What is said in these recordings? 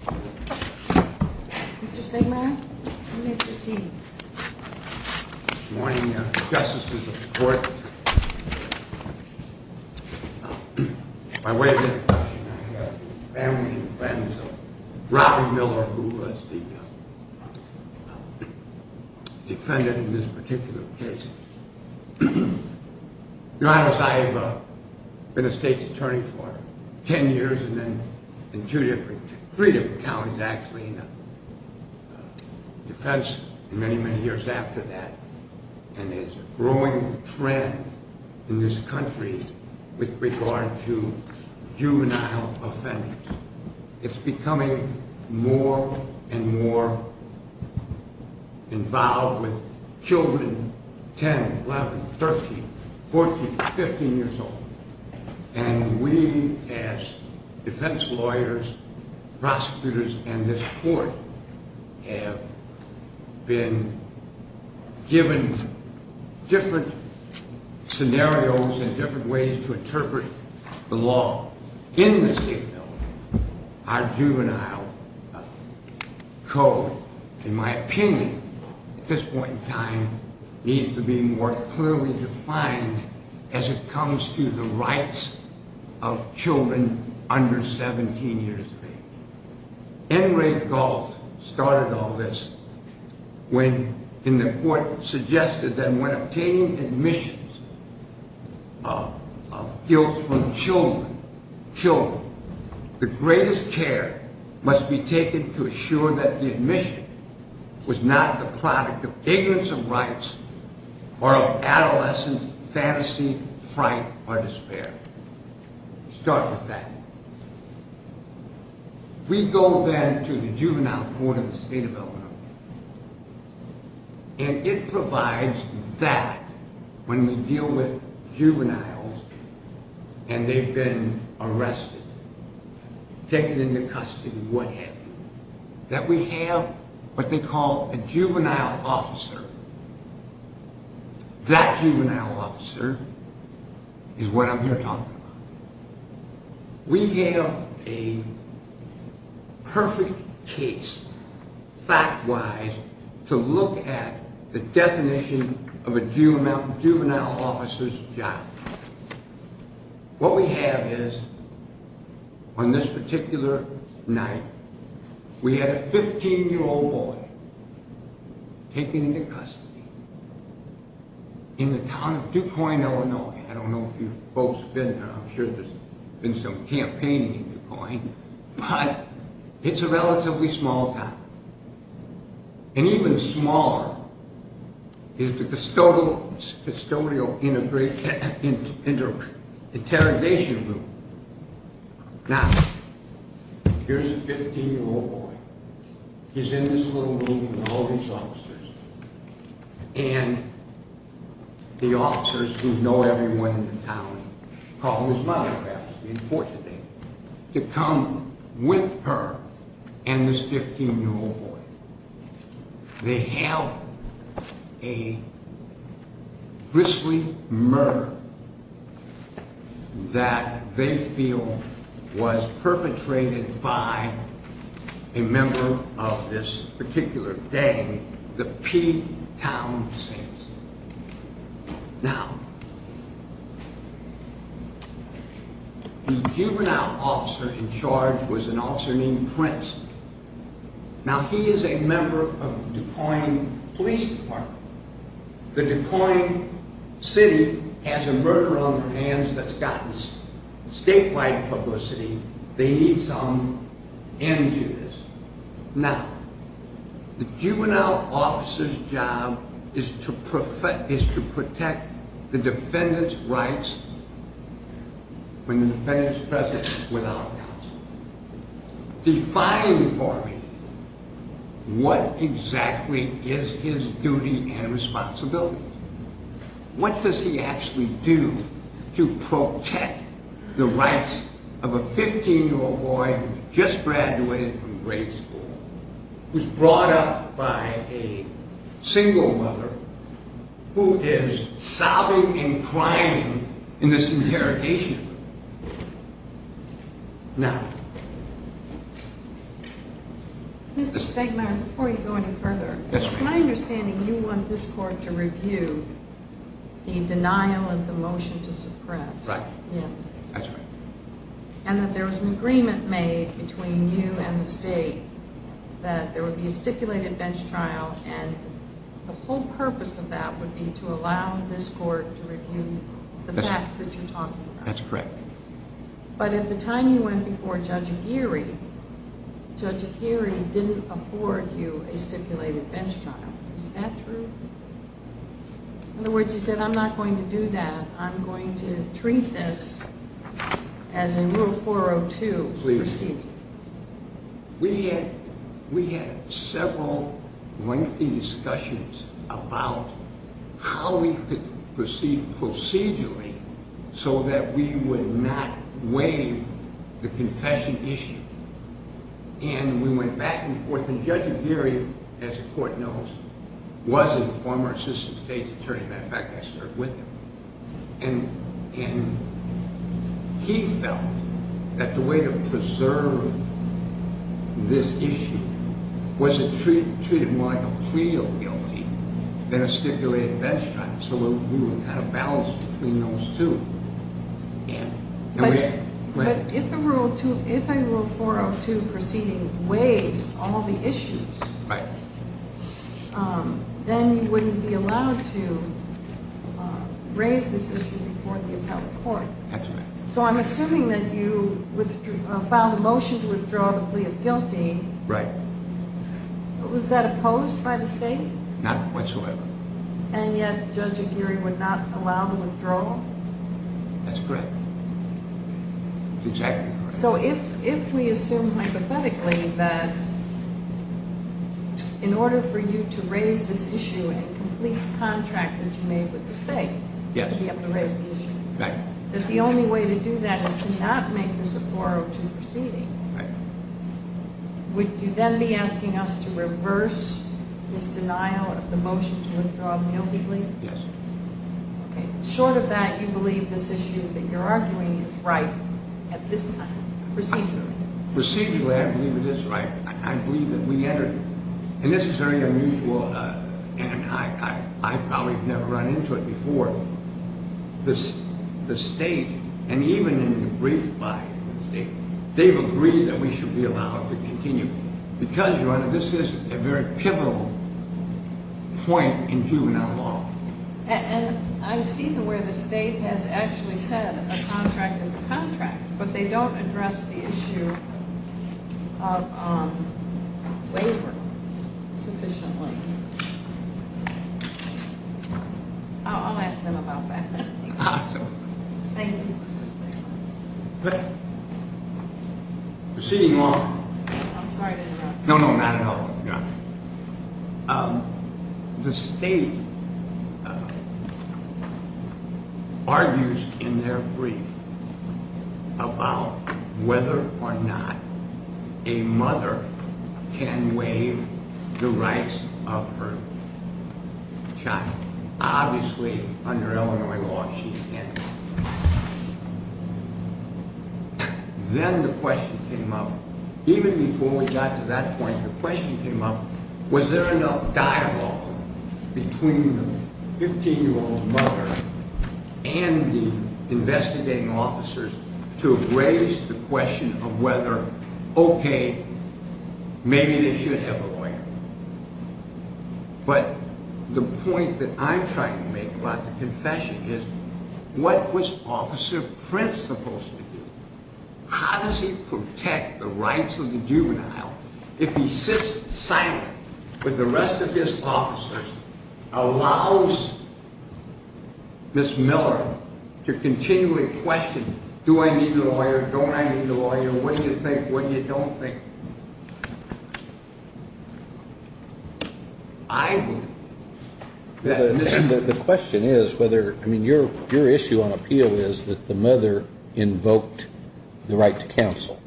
Mr. Stigmaier, you may proceed. Good morning, Justices of the Court. By way of introduction, I have the family and friends of Robert Mueller, who was the defendant in this particular case. Your Honor, as I have been a state's attorney for ten years, and then in three different counties, actually, in defense, and many, many years after that, and there's a growing trend in this country with regard to juvenile offenders. It's becoming more and more involved with children 10, 11, 13, 14, 15 years old. And we, as defense lawyers, prosecutors, and this Court, have been given different scenarios and different ways to interpret the law in this state. Our juvenile code, in my opinion, at this point in time, needs to be more clearly defined as it comes to the rights of children under 17 years of age. N. Ray Gault started all this when, in the Court, suggested that when obtaining admissions of guilt from children, the greatest care must be taken to assure that the admission was not the product of ignorance of rights or of adolescent fantasy, fright, or despair. Start with that. We go then to the juvenile court in the State of Illinois, and it provides that when we deal with juveniles and they've been arrested, taken into custody, what have you, that we have what they call a juvenile officer. That juvenile officer is what I'm here talking about. We have a perfect case, fact-wise, to look at the definition of a juvenile officer's job. What we have is, on this particular night, we had a 15-year-old boy taken into custody in the town of Duquoin, Illinois. I don't know if you folks have been there. I'm sure there's been some campaigning in Duquoin, but it's a relatively small town. And even smaller is the custodial interrogation room. Now, here's a 15-year-old boy. He's in this little meeting with all these officers. And the officers, who know everyone in the town, call this mother, perhaps, the unfortunate lady, to come with her and this 15-year-old boy. They have a grisly murder that they feel was perpetrated by a member of this particular gang, the P-Town Saints. Now, the juvenile officer in charge was an officer named Prince. Now, he is a member of Duquoin Police Department. The Duquoin city has a murder on their hands that's gotten statewide publicity. They need some images. Now, the juvenile officer's job is to protect the defendant's rights when the defendant is present without counsel. Define for me, what exactly is his duty and responsibility? What does he actually do to protect the rights of a 15-year-old boy who's just graduated from grade school, who's brought up by a single mother, who is sobbing and crying in this interrogation room? Now... Mr. Stegmaier, before you go any further, it's my understanding you want this court to review the denial of the motion to suppress. Right. That's right. And that there was an agreement made between you and the state that there would be a stipulated bench trial, and the whole purpose of that would be to allow this court to review the facts that you're talking about. That's correct. But at the time you went before Judge Aguirre, Judge Aguirre didn't afford you a stipulated bench trial. Is that true? In other words, you said, I'm not going to do that. I'm going to treat this as a Rule 402 proceeding. We had several lengthy discussions about how we could proceed procedurally so that we would not waive the confession issue. And we went back and forth, and Judge Aguirre, as the court knows, was a former assistant state attorney. As a matter of fact, I served with him. And he felt that the way to preserve this issue was to treat it more like a plea of guilty than a stipulated bench trial, so that we would have a balance between those two. But if a Rule 402 proceeding waives all the issues, then you wouldn't be allowed to raise this issue before the appellate court. That's right. So I'm assuming that you filed a motion to withdraw the plea of guilty. Right. Was that opposed by the state? Not whatsoever. And yet Judge Aguirre would not allow the withdrawal? That's correct. That's exactly correct. So if we assume hypothetically that in order for you to raise this issue in a complete contract that you made with the state, you have to raise the issue. Right. That the only way to do that is to not make this a 402 proceeding. Right. Would you then be asking us to reverse this denial of the motion to withdraw the guilty plea? Yes. Okay. Short of that, you believe this issue that you're arguing is right at this time, procedurally? Procedurally, I believe it is right. I believe that we entered, and this is very unusual, and I've probably never run into it before. The state, and even in the brief by the state, they've agreed that we should be allowed to continue. Because, Your Honor, this is a very pivotal point in juvenile law. And I see where the state has actually said a contract is a contract, but they don't address the issue of waiver sufficiently. I'll ask them about that. Thank you. Proceeding on. I'm sorry to interrupt. No, no, not at all, Your Honor. The state argues in their brief about whether or not a mother can waive the rights of her child. Obviously, under Illinois law, she can't. Then the question came up, even before we got to that point, the question came up, was there enough dialogue between the 15-year-old mother and the investigating officers to raise the question of whether, okay, maybe they should have a lawyer. But the point that I'm trying to make about the confession is, what was Officer Prince supposed to do? How does he protect the rights of the juvenile if he sits silent with the rest of his officers, allows Ms. Miller to continually question, do I need a lawyer, don't I need a lawyer, what do you think, what do you don't think? The question is whether, I mean, your issue on appeal is that the mother invoked the right to counsel.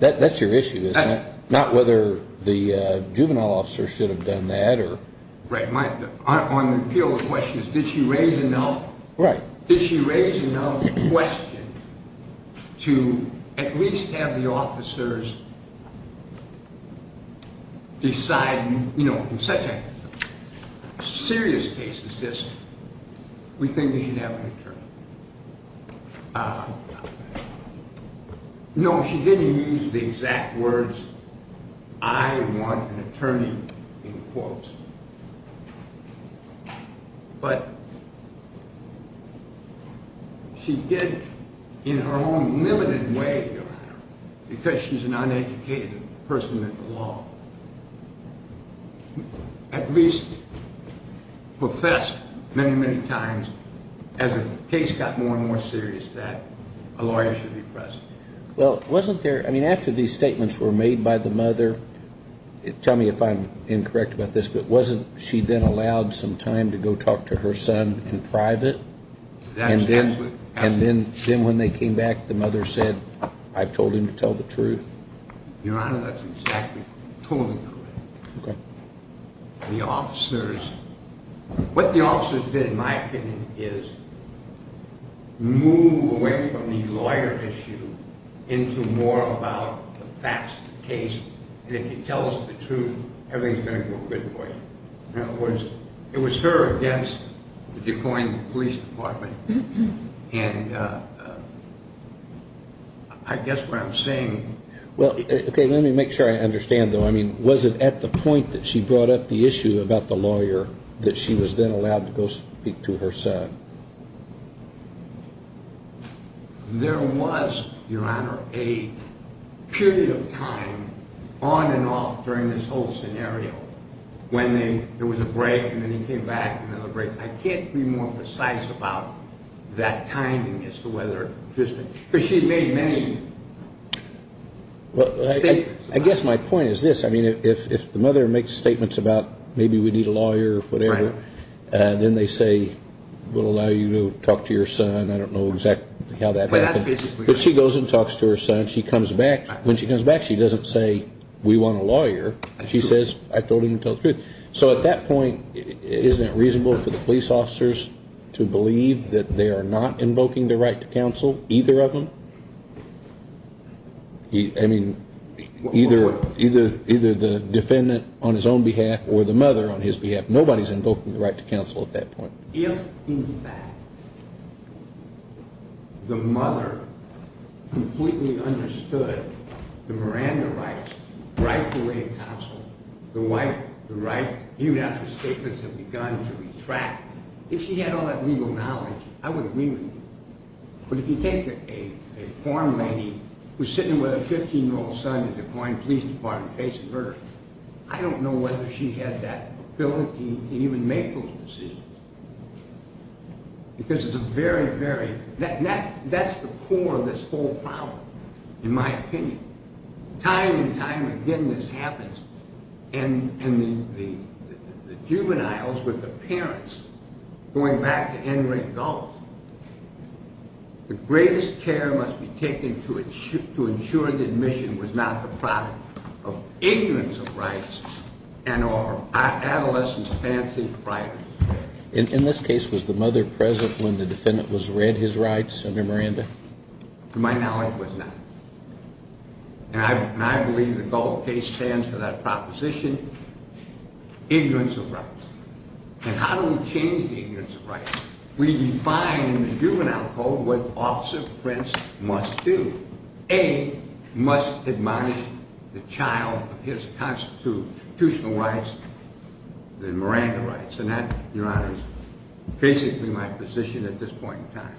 That's your issue, isn't it? Not whether the juvenile officer should have done that. Right. On the appeal, the question is, did she raise enough question to at least have the officers decide, you know, in such a serious case as this, we think we should have an attorney. No, she didn't use the exact words, I want an attorney, in quotes. But she did in her own limited way, Your Honor, because she's an uneducated person in the law, at least professed many, many times as the case got more and more serious that a lawyer should be present. Well, wasn't there, I mean, after these statements were made by the mother, tell me if I'm incorrect about this, but wasn't she then allowed some time to go talk to her son in private? And then when they came back, the mother said, I've told him to tell the truth. Your Honor, that's exactly, totally correct. Okay. The officers, what the officers did, in my opinion, is move away from the lawyer issue into more about the facts of the case, and if you tell us the truth, everything's going to go good for you. In other words, it was her against the decoying of the police department, and I guess what I'm saying, well, okay, let me make sure I understand, though. I mean, was it at the point that she brought up the issue about the lawyer that she was then allowed to go speak to her son? There was, Your Honor, a period of time on and off during this whole scenario when there was a break, and then he came back, another break. I can't be more precise about that timing as to whether she made many statements. I guess my point is this. I mean, if the mother makes statements about maybe we need a lawyer or whatever, then they say, we'll allow you to talk to your son. I don't know exactly how that happened. But she goes and talks to her son. She comes back. When she comes back, she doesn't say, we want a lawyer. She says, I told him to tell the truth. So at that point, isn't it reasonable for the police officers to believe that they are not invoking the right to counsel, either of them? I mean, either the defendant on his own behalf or the mother on his behalf. Nobody's invoking the right to counsel at that point. If, in fact, the mother completely understood the Miranda rights, the right to counsel, the right, even after statements have begun to retract, if she had all that legal knowledge, I would agree with you. But if you take a farm lady who's sitting with her 15-year-old son in the De Quine Police Department facing murder, I don't know whether she had that ability to even make those decisions. Because it's a very, very – that's the core of this whole problem, in my opinion. Time and time again, this happens. And the juveniles with the parents going back to entering adult, the greatest care must be taken to ensure that admission was not the product of ignorance of rights and our adolescent's fancy of privacy. In this case, was the mother present when the defendant was read his rights under Miranda? To my knowledge, was not. And I believe the Gallup case stands for that proposition, ignorance of rights. We define in the juvenile code what Officer Prince must do. A, must admonish the child of his constitutional rights, the Miranda rights. And that, Your Honor, is basically my position at this point in time.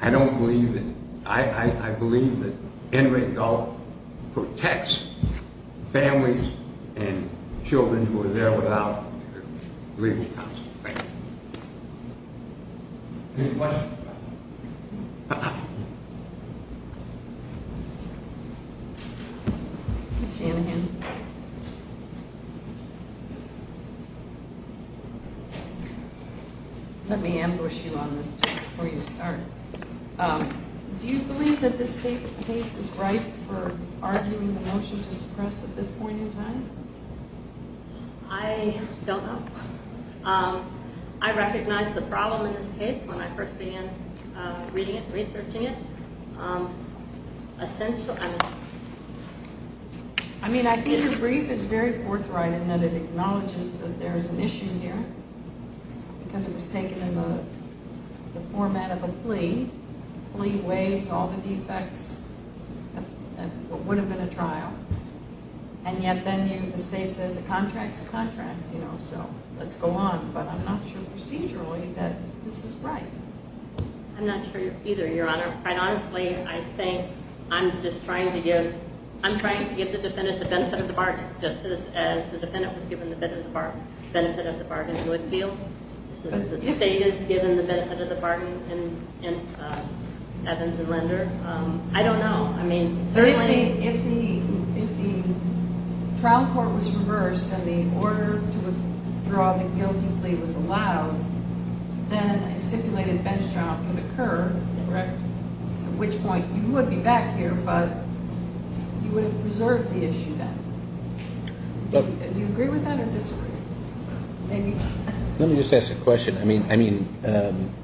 I don't believe that – I believe that entering adult protects families and children who are there without legal counsel. Thank you. Any questions? Ms. Shanahan. Let me ambush you on this before you start. Do you believe that this case is ripe for arguing the motion to suppress at this point in time? I don't know. I recognized the problem in this case when I first began reading it, researching it. I mean, I think the brief is very forthright in that it acknowledges that there is an issue here because it was taken in the format of a plea. The plea weighs all the defects of what would have been a trial. And yet then the state says a contract is a contract, you know, so let's go on. But I'm not sure procedurally that this is right. I'm not sure either, Your Honor. Quite honestly, I think I'm just trying to give – I'm trying to give the defendant the benefit of the bargain, just as the defendant was given the benefit of the bargain in Woodfield. The state has given the benefit of the bargain in Evans and Linder. I don't know. I mean, certainly – If the trial court was reversed and the order to withdraw the guilty plea was allowed, then a stipulated bench trial could occur, correct? At which point you would be back here, but you would have preserved the issue then. Do you agree with that or disagree? Let me just ask a question. I mean,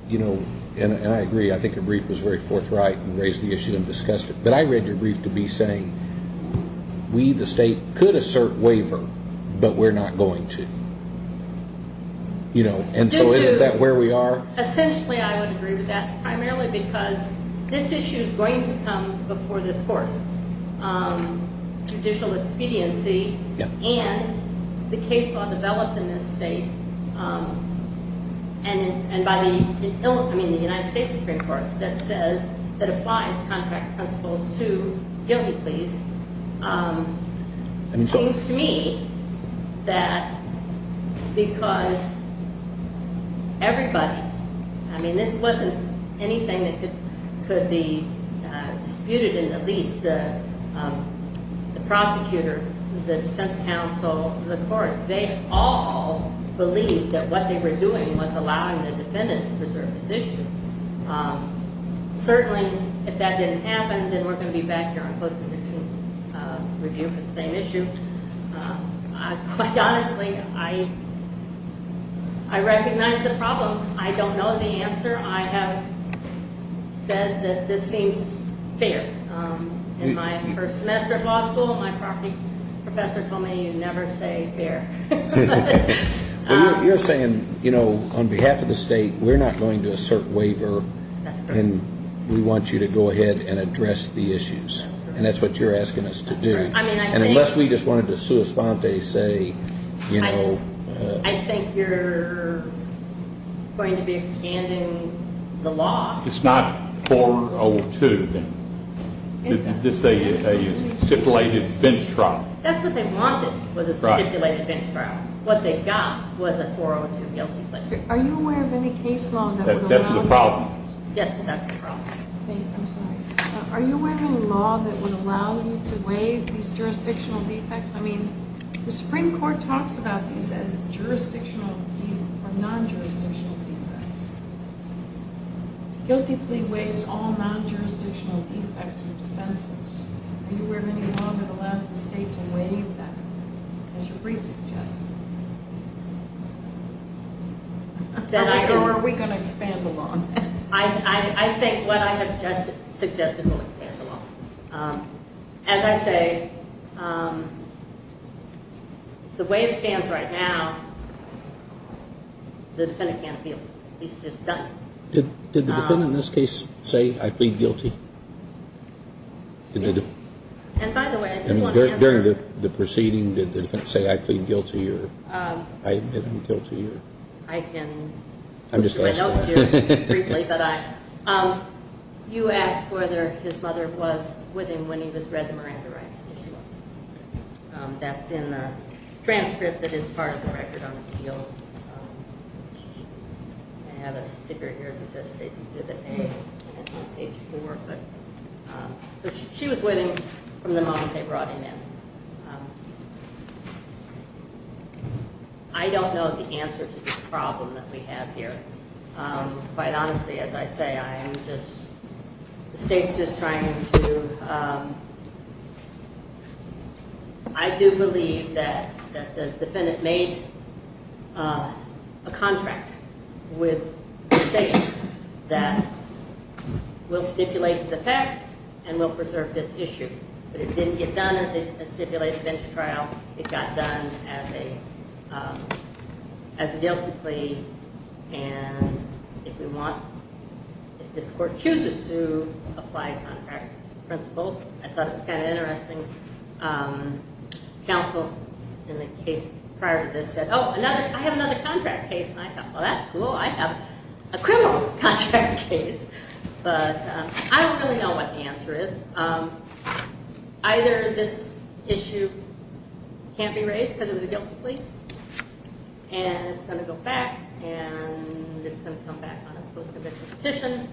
you know, and I agree. I think your brief was very forthright and raised the issue and discussed it. But I read your brief to be saying we, the state, could assert waiver, but we're not going to. You know, and so isn't that where we are? Essentially, I would agree with that, primarily because this issue is going to come before this court. Judicial expediency and the case law developed in this state and by the – I mean, the United States Supreme Court that says – that applies contract principles to guilty pleas. It seems to me that because everybody – I mean, this wasn't anything that could be disputed, and at least the prosecutor, the defense counsel, the court, they all believed that what they were doing was allowing the defendant to preserve this issue. Certainly, if that didn't happen, then we're going to be back here on post-conviction review for the same issue. Quite honestly, I recognize the problem. I don't know the answer. I have said that this seems fair. In my first semester of law school, my professor told me you never say fair. Well, you're saying, you know, on behalf of the state, we're not going to assert waiver, and we want you to go ahead and address the issues, and that's what you're asking us to do. That's right. I mean, I think – And unless we just wanted to sua sponte say, you know – I think you're going to be expanding the law. It's not 402, then. It's a stipulated bench trial. That's what they wanted, was a stipulated bench trial. What they got was a 402 guilty plea. Are you aware of any case law that would allow you – That's the problem. Yes, that's the problem. Thank you. I'm sorry. Are you aware of any law that would allow you to waive these jurisdictional defects? I mean, the Supreme Court talks about these as jurisdictional or non-jurisdictional defects. Guilty plea waives all non-jurisdictional defects or defenses. Are you aware of any law that allows the state to waive that, as your brief suggests? Or are we going to expand the law? I think what I have just suggested will expand the law. As I say, the way it stands right now, the defendant can't appeal. He's just done it. Did the defendant in this case say, I plead guilty? By the way, I did want to ask – During the proceeding, did the defendant say, I plead guilty or I am guilty? I can – I'm just asking. You asked whether his mother was with him when he was read the Miranda rights issues. That's in the transcript that is part of the record on the field. I have a sticker here that says State's Exhibit A. That's on page 4. So she was waiting for the moment they brought him in. I don't know the answer to the problem that we have here. Quite honestly, as I say, I am just – the state's just trying to – I do believe that the defendant made a contract with the state that we'll stipulate the facts and we'll preserve this issue. But it didn't get done as a stipulated bench trial. It got done as a guilty plea. And if we want – if this court chooses to apply contract principles, I thought it was kind of interesting. Counsel in the case prior to this said, oh, I have another contract case. And I thought, well, that's cool. I have a criminal contract case. But I don't really know what the answer is. Either this issue can't be raised because it was a guilty plea and it's going to go back and it's going to come back on a post-conviction petition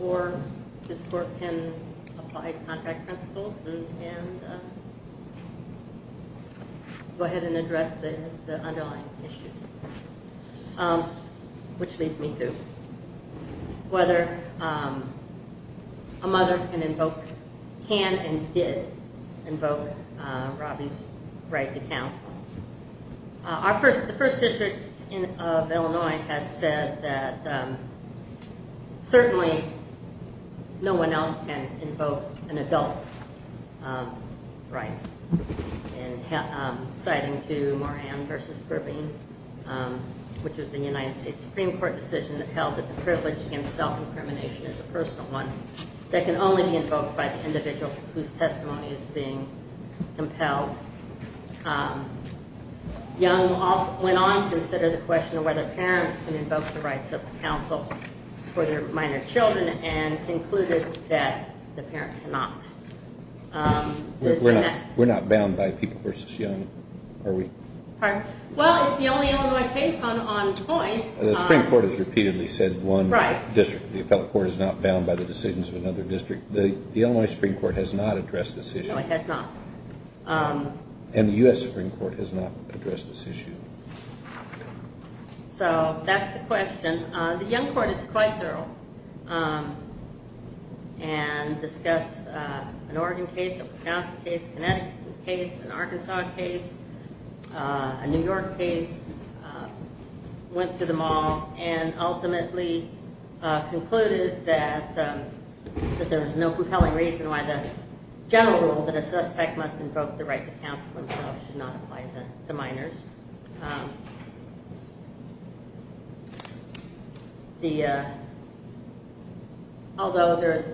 or this court can apply contract principles and go ahead and address the underlying issues, which leads me to whether a mother can invoke – can and did invoke Robby's right to counsel. The First District of Illinois has said that certainly no one else can invoke an adult's rights. And citing to Moran v. Perveen, which was the United States Supreme Court decision that held that the privilege against self-incrimination is a personal one that can only be invoked by the individual whose testimony is being impelled, Young went on to consider the question of whether parents can invoke the rights of counsel for their minor children and concluded that the parent cannot. We're not bound by People v. Young, are we? Pardon? Well, it's the only Illinois case on point. The Supreme Court has repeatedly said one district. The appellate court is not bound by the decisions of another district. The Illinois Supreme Court has not addressed this issue. No, it has not. And the U.S. Supreme Court has not addressed this issue. So that's the question. The Young court is quite thorough and discussed an Oregon case, a Wisconsin case, a Connecticut case, an Arkansas case, a New York case, went through them all and ultimately concluded that there was no compelling reason why the general rule that a suspect must invoke the right to counsel himself should not apply to minors. Although there is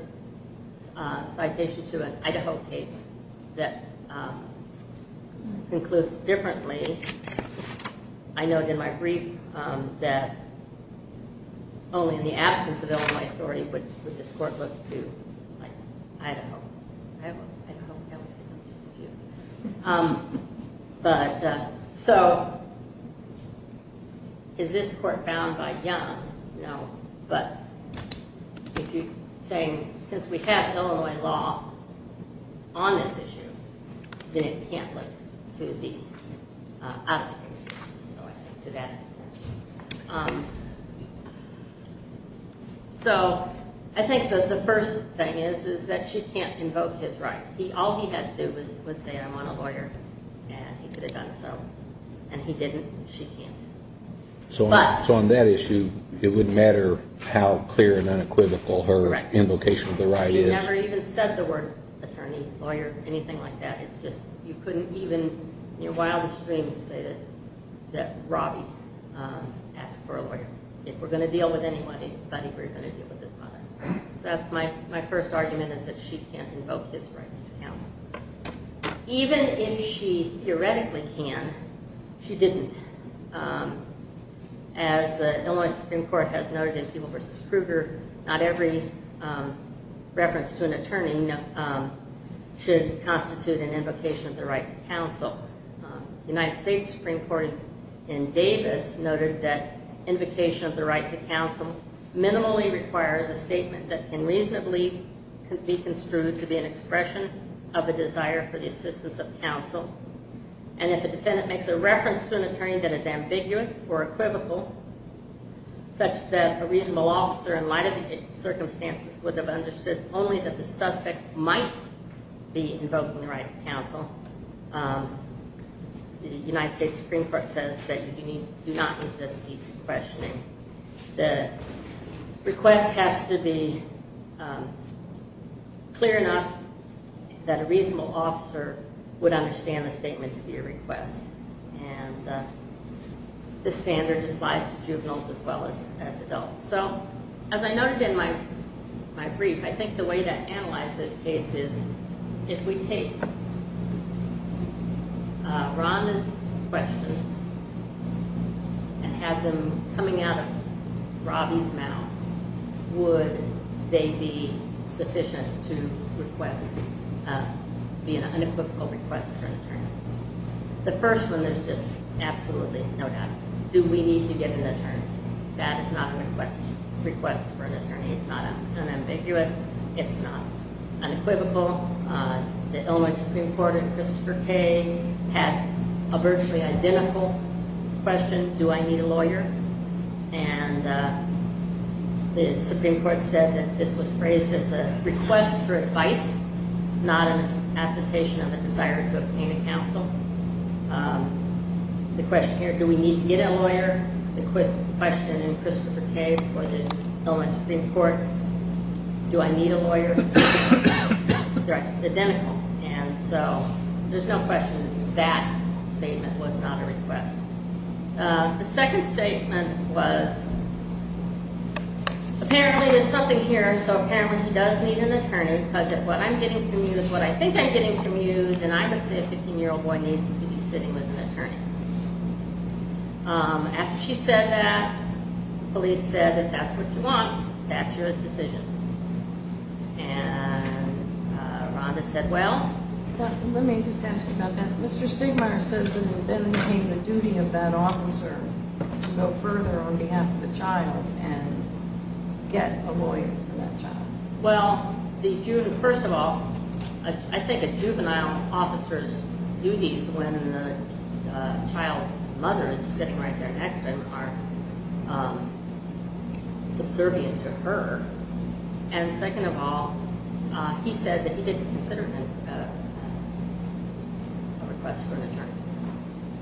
a citation to an Idaho case that concludes differently, I noted in my brief that only in the absence of Illinois authority would this court look to Idaho. I always get those two confused. But so is this court bound by Young? No. But if you're saying since we have Illinois law on this issue, then it can't look to the Idaho cases. So I think to that extent. So I think the first thing is that she can't invoke his right. All he had to do was say I'm on a lawyer, and he could have done so. And he didn't. She can't. So on that issue, it wouldn't matter how clear and unequivocal her invocation of the right is. She never even said the word attorney, lawyer, anything like that. You couldn't even in your wildest dreams say that Robbie asked for a lawyer. If we're going to deal with anybody, we're going to deal with this mother. That's my first argument is that she can't invoke his rights to counsel. Even if she theoretically can, she didn't. As the Illinois Supreme Court has noted in Peeble v. Kruger, not every reference to an attorney should constitute an invocation of the right to counsel. The United States Supreme Court in Davis noted that invocation of the right to counsel minimally requires a statement that can reasonably be construed to be an expression of a desire for the assistance of counsel. And if a defendant makes a reference to an attorney that is ambiguous or equivocal, such that a reasonable officer, in light of the circumstances, would have understood only that the suspect might be invoking the right to counsel, the United States Supreme Court says that you do not need to cease questioning. The request has to be clear enough that a reasonable officer would understand the statement to be a request. And this standard applies to juveniles as well as adults. So as I noted in my brief, I think the way to analyze this case is if we take Rhonda's questions and have them coming out of Robbie's mouth, would they be sufficient to be an unequivocal request for an attorney? The first one is just absolutely, no doubt. Do we need to get an attorney? That is not a request for an attorney. It's not unambiguous. It's not unequivocal. The Illinois Supreme Court in Christopher K. had a virtually identical question, do I need a lawyer? And the Supreme Court said that this was raised as a request for advice, not an assertion of a desire to obtain a counsel. The question in Christopher K. for the Illinois Supreme Court, do I need a lawyer? They're identical. And so there's no question that statement was not a request. The second statement was apparently there's something here, so apparently he does need an attorney, because if what I'm getting from you is what I think I'm getting from you, then I would say a 15-year-old boy needs to be sitting with an attorney. After she said that, police said if that's what you want, that's your decision. And Rhonda said, well? Let me just ask you about that. Mr. Stigmeyer says that it then became the duty of that officer to go further on behalf of the child and get a lawyer for that child. Well, first of all, I think a juvenile officer's duties when the child's mother is sitting right there next to him are subservient to her. And second of all, he said that he didn't consider it a request for an attorney.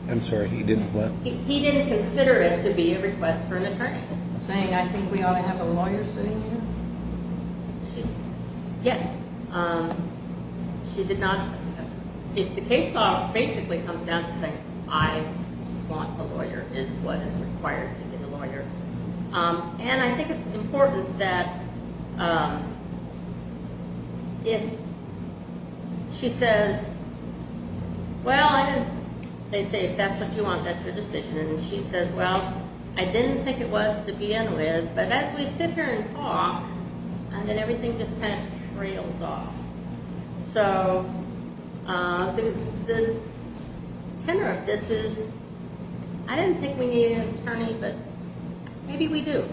I'm sorry, he didn't what? He didn't consider it to be a request for an attorney. Is she saying I think we ought to have a lawyer sitting here? Yes. She did not say that. The case law basically comes down to saying I want a lawyer is what is required to get a lawyer. And I think it's important that if she says, well, I didn't, they say if that's what you want, that's your decision. And she says, well, I didn't think it was to begin with, but as we sit here and talk, then everything just kind of trails off. So the tenor of this is I didn't think we needed an attorney, but maybe we do.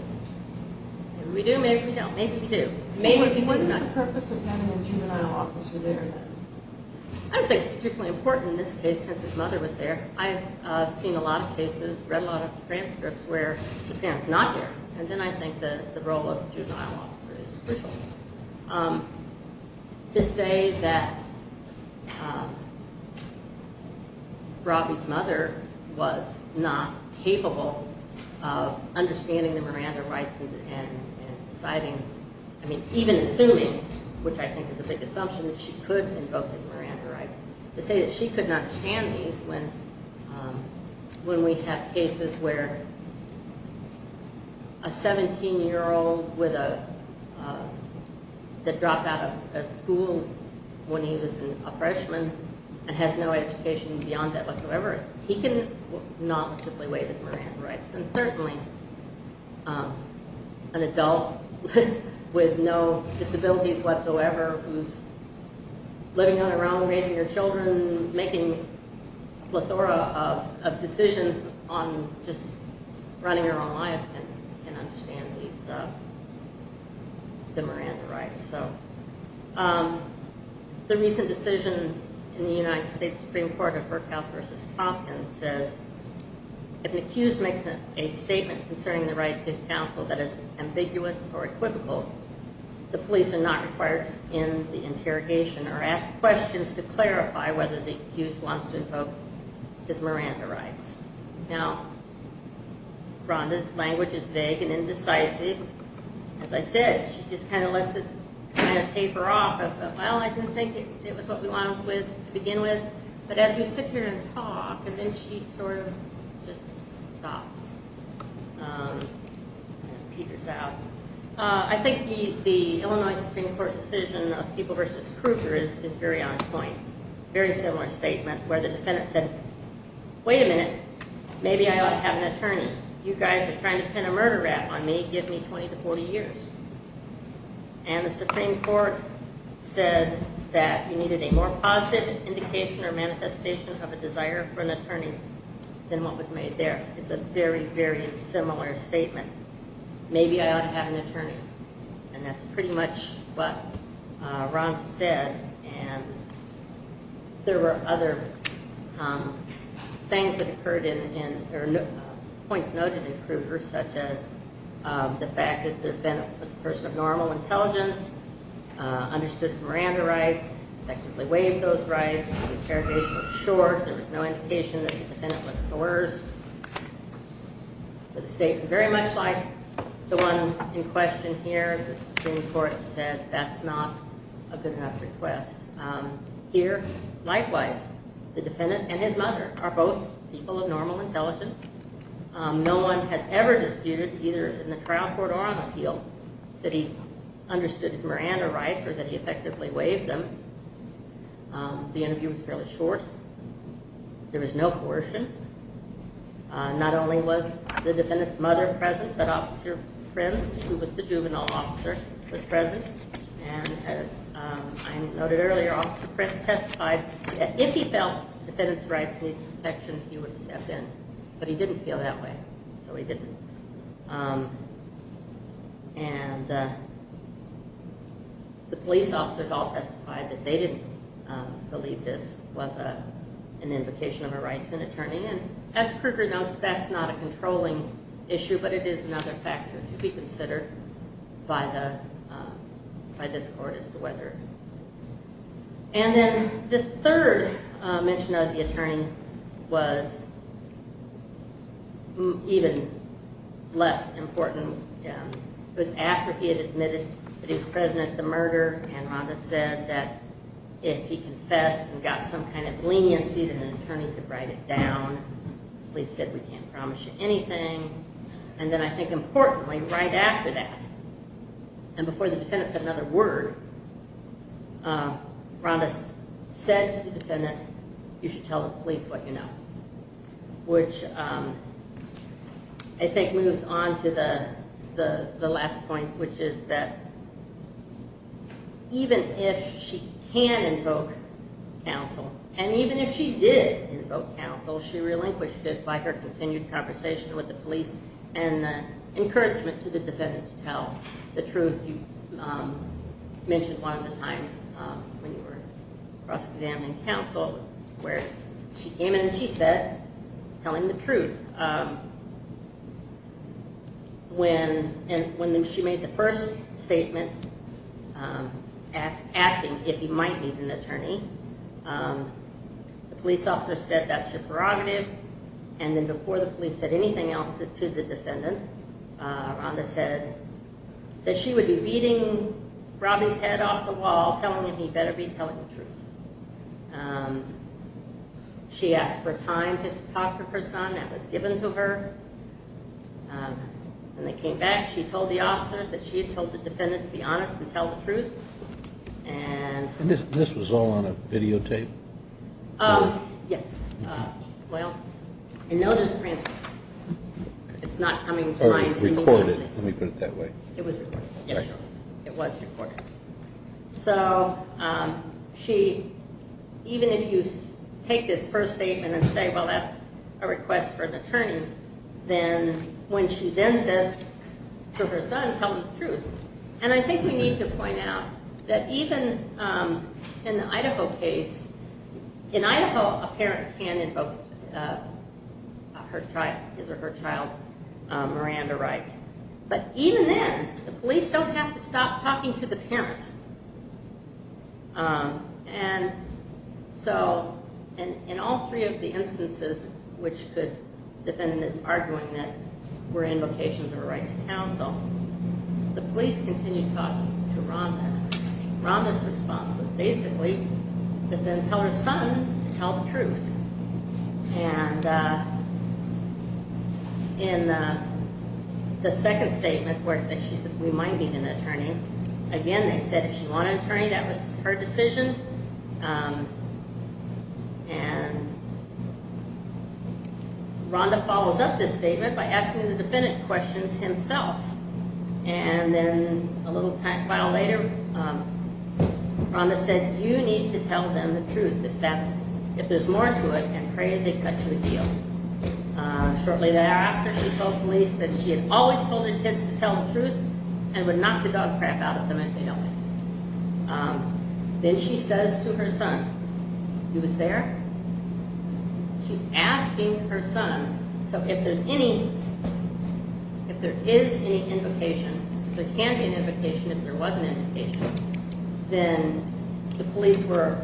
Maybe we do, maybe we don't. Maybe we do. What's the purpose of having a juvenile officer there then? I don't think it's particularly important in this case since his mother was there. I've seen a lot of cases, read a lot of transcripts where the parent's not there. And then I think the role of the juvenile officer is crucial. To say that Robbie's mother was not capable of understanding the Miranda rights and deciding, I mean, even assuming, which I think is a big assumption that she could invoke these Miranda rights, to say that she could not understand these when we have cases where a 17-year-old that dropped out of school when he was a freshman and has no education beyond that whatsoever, he can knowledgeably waive his Miranda rights. And certainly an adult with no disabilities whatsoever who's living on their own, raising their children, making a plethora of decisions on just running your own life can understand the Miranda rights. The recent decision in the United States Supreme Court of Berkhouse v. Hopkins says if an accused makes a statement concerning the right to counsel that is ambiguous or equivocal, the police are not required to end the interrogation or ask questions to clarify whether the accused wants to invoke his Miranda rights. Now, Rhonda's language is vague and indecisive. As I said, she just kind of lets it taper off of, well, I didn't think it was what we wanted to begin with. But as we sit here and talk, and then she sort of just stops and peters out. I think the Illinois Supreme Court decision of People v. Kruger is very on point. Very similar statement where the defendant said, wait a minute, maybe I ought to have an attorney. You guys are trying to pin a murder rap on me, give me 20 to 40 years. And the Supreme Court said that you needed a more positive indication or manifestation of a desire for an attorney than what was made there. It's a very, very similar statement. Maybe I ought to have an attorney. And that's pretty much what Rhonda said. And there were other points noted in Kruger, such as the fact that the defendant was a person of normal intelligence, understood some Miranda rights, effectively waived those rights, the interrogation was short, there was no indication that the defendant was coerced. A statement very much like the one in question here. The Supreme Court said that's not a good enough request. Here, likewise, the defendant and his mother are both people of normal intelligence. No one has ever disputed, either in the trial court or on appeal, that he understood his Miranda rights or that he effectively waived them. The interview was fairly short. There was no coercion. Not only was the defendant's mother present, but Officer Prince, who was the juvenile officer, was present. And as I noted earlier, Officer Prince testified that if he felt the defendant's rights needed protection, he would step in. But he didn't feel that way, so he didn't. And the police officers all testified that they didn't believe this was an invocation of a right to an attorney. And as Kruger notes, that's not a controlling issue, but it is another factor to be considered by this court as to whether. And then the third mention of the attorney was even less important. It was after he had admitted that he was present at the murder, and Miranda said that if he confessed and got some kind of leniency, that an attorney could write it down. The police said, we can't promise you anything. And then, I think importantly, right after that, and before the defendant said another word, Miranda said to the defendant, you should tell the police what you know, which I think moves on to the last point, which is that even if she can invoke counsel, and even if she did invoke counsel, she relinquished it by her continued conversation with the police and the encouragement to the defendant to tell the truth. You mentioned one of the times when you were cross-examining counsel where she came in and she said, tell him the truth. When she made the first statement asking if he might need an attorney, the police officer said, that's your prerogative. And then before the police said anything else to the defendant, Miranda said that she would be beating Robbie's head off the wall, telling him he better be telling the truth. She asked for time to talk to her son. That was given to her. When they came back, she told the officers that she had told the defendant to be honest and tell the truth. And this was all on a videotape? Yes. Well, I know there's a transcript. It's not coming to mind immediately. It was recorded. Let me put it that way. It was recorded, yes. It was recorded. So she, even if you take this first statement and say, well, that's a request for an attorney, then when she then says to her son, tell me the truth. And I think we need to point out that even in the Idaho case, in Idaho, a parent can invoke his or her child's Miranda rights. But even then, the police don't have to stop talking to the parent. And so in all three of the instances which the defendant is arguing that were invocations of a right to counsel, the police continue talking to Rhonda. Rhonda's response was basically to then tell her son to tell the truth. And in the second statement where she said we might need an attorney, again, they said if she wanted an attorney, that was her decision. And Rhonda follows up this statement by asking the defendant questions himself. And then a little while later, Rhonda said you need to tell them the truth. If there's more to it, I pray they cut you a deal. Shortly thereafter, she told police that she had always told her kids to tell the truth and would knock the dog crap out of them if they don't. Then she says to her son, he was there? She's asking her son, so if there's any, if there is any invocation, there can be an invocation if there was an invocation, then the police were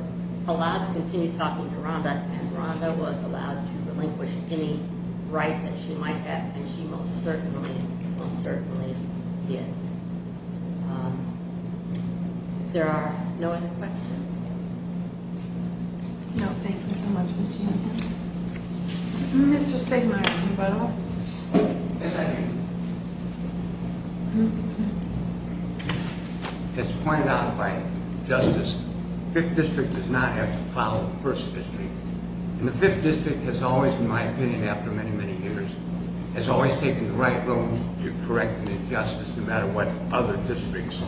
allowed to continue talking to Rhonda and Rhonda was allowed to relinquish any right that she might have. And she most certainly, most certainly did. If there are no other questions. No, thank you so much, Ms. Heumann. Mr. Stegmaier. As pointed out by Justice, 5th District does not have to follow 1st District. And the 5th District has always, in my opinion, after many, many years, has always taken the right road to correcting the injustice no matter what other districts saw.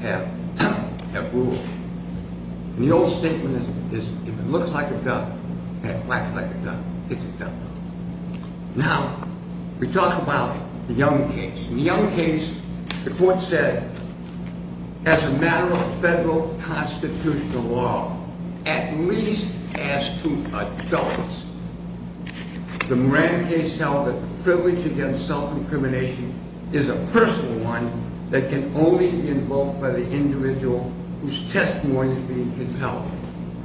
Have done, have ruled. And the old statement is, if it looks like a duck and it acts like a duck, it's a duck. Now, we talk about the Young case. In the Young case, the court said, as a matter of federal constitutional law, at least as to adults, The Moran case held that the privilege against self-incrimination is a personal one that can only be invoked by the individual whose testimony is being compelled,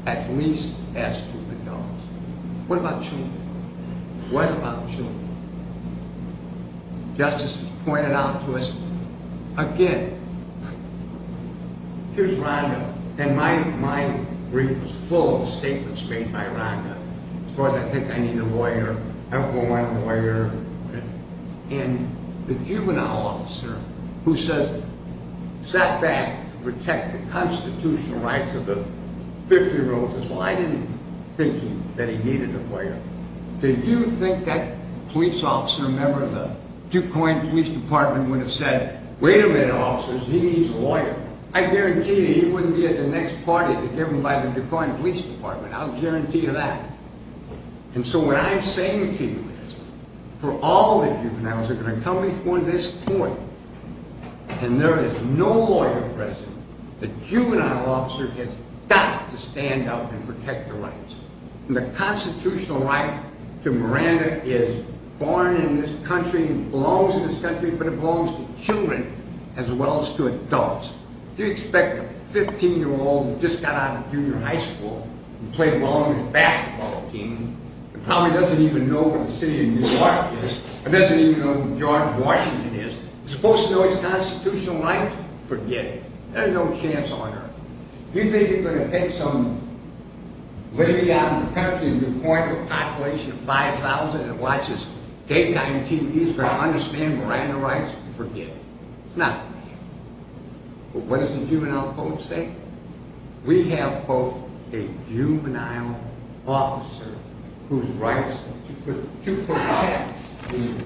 at least as to adults. What about children? What about children? Justice pointed out to us, again, here's Rhonda, and my brief was full of statements made by Rhonda. As far as I think I need a lawyer, I don't know why I'm a lawyer. And the juvenile officer who says, sat back to protect the constitutional rights of the 50-year-olds, Well, I didn't think that he needed a lawyer. Did you think that police officer, a member of the Duquoin Police Department, would have said, wait a minute, officers, he needs a lawyer. I guarantee you he wouldn't be at the next party to get him by the Duquoin Police Department. I'll guarantee you that. And so what I'm saying to you is, for all the juveniles that are going to come before this court, and there is no lawyer present, The juvenile officer has got to stand up and protect the rights. The constitutional right to Miranda is born in this country and belongs to this country, but it belongs to children as well as to adults. Do you expect a 15-year-old who just got out of junior high school to play long in a basketball team, and probably doesn't even know where the city of New York is, and doesn't even know where George Washington is, is supposed to know his constitutional rights? Forget it. There's no chance on earth. Do you think he's going to take some lady out in the country in Duquoin with a population of 5,000 and watch his daytime TV? He's going to understand Miranda rights? Forget it. It's not going to happen. But what does the juvenile code say? We have, quote, a juvenile officer whose rights are to protect the individual.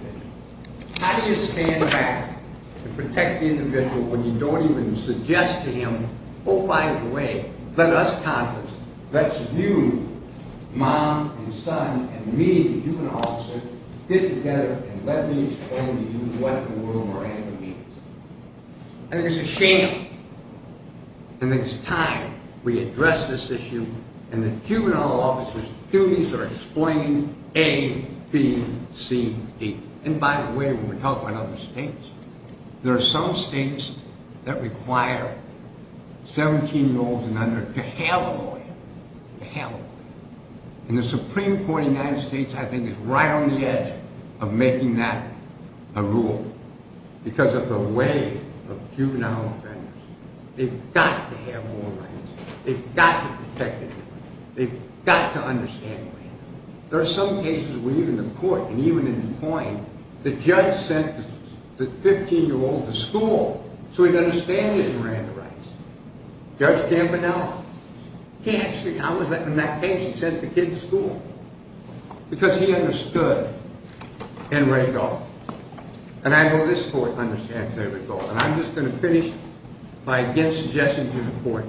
How do you stand back and protect the individual when you don't even suggest to him, Oh, by the way, let us Congress, let you, mom and son, and me, the juvenile officer, get together and let me explain to you what the world of Miranda means. I think it's a shame that it's time we address this issue and that juvenile officers' duties are explained A, B, C, D. And by the way, when we talk about other states, there are some states that require 17-year-olds and under to have a lawyer, to have a lawyer. And the Supreme Court of the United States, I think, is right on the edge of making that a rule because of the way of juvenile offenders. They've got to have moral rights. They've got to protect the individual. They've got to understand Miranda. There are some cases where even the court, and even in DuPont, the judge sent the 15-year-old to school so he'd understand that he ran the rights. Judge Campanella, he actually, I was in that case, he sent the kid to school because he understood and read it all. And I know this court understands that as well. And I'm just going to finish by again suggesting to the court,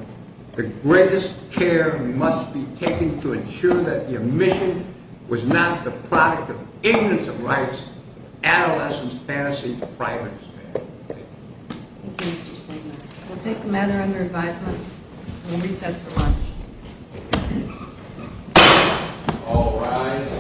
the greatest care must be taken to ensure that the omission was not the product of ignorance of rights, adolescence, fantasy, or privacy. Thank you. Thank you, Mr. Stegner. We'll take the matter under advisement and we'll recess for lunch. All rise.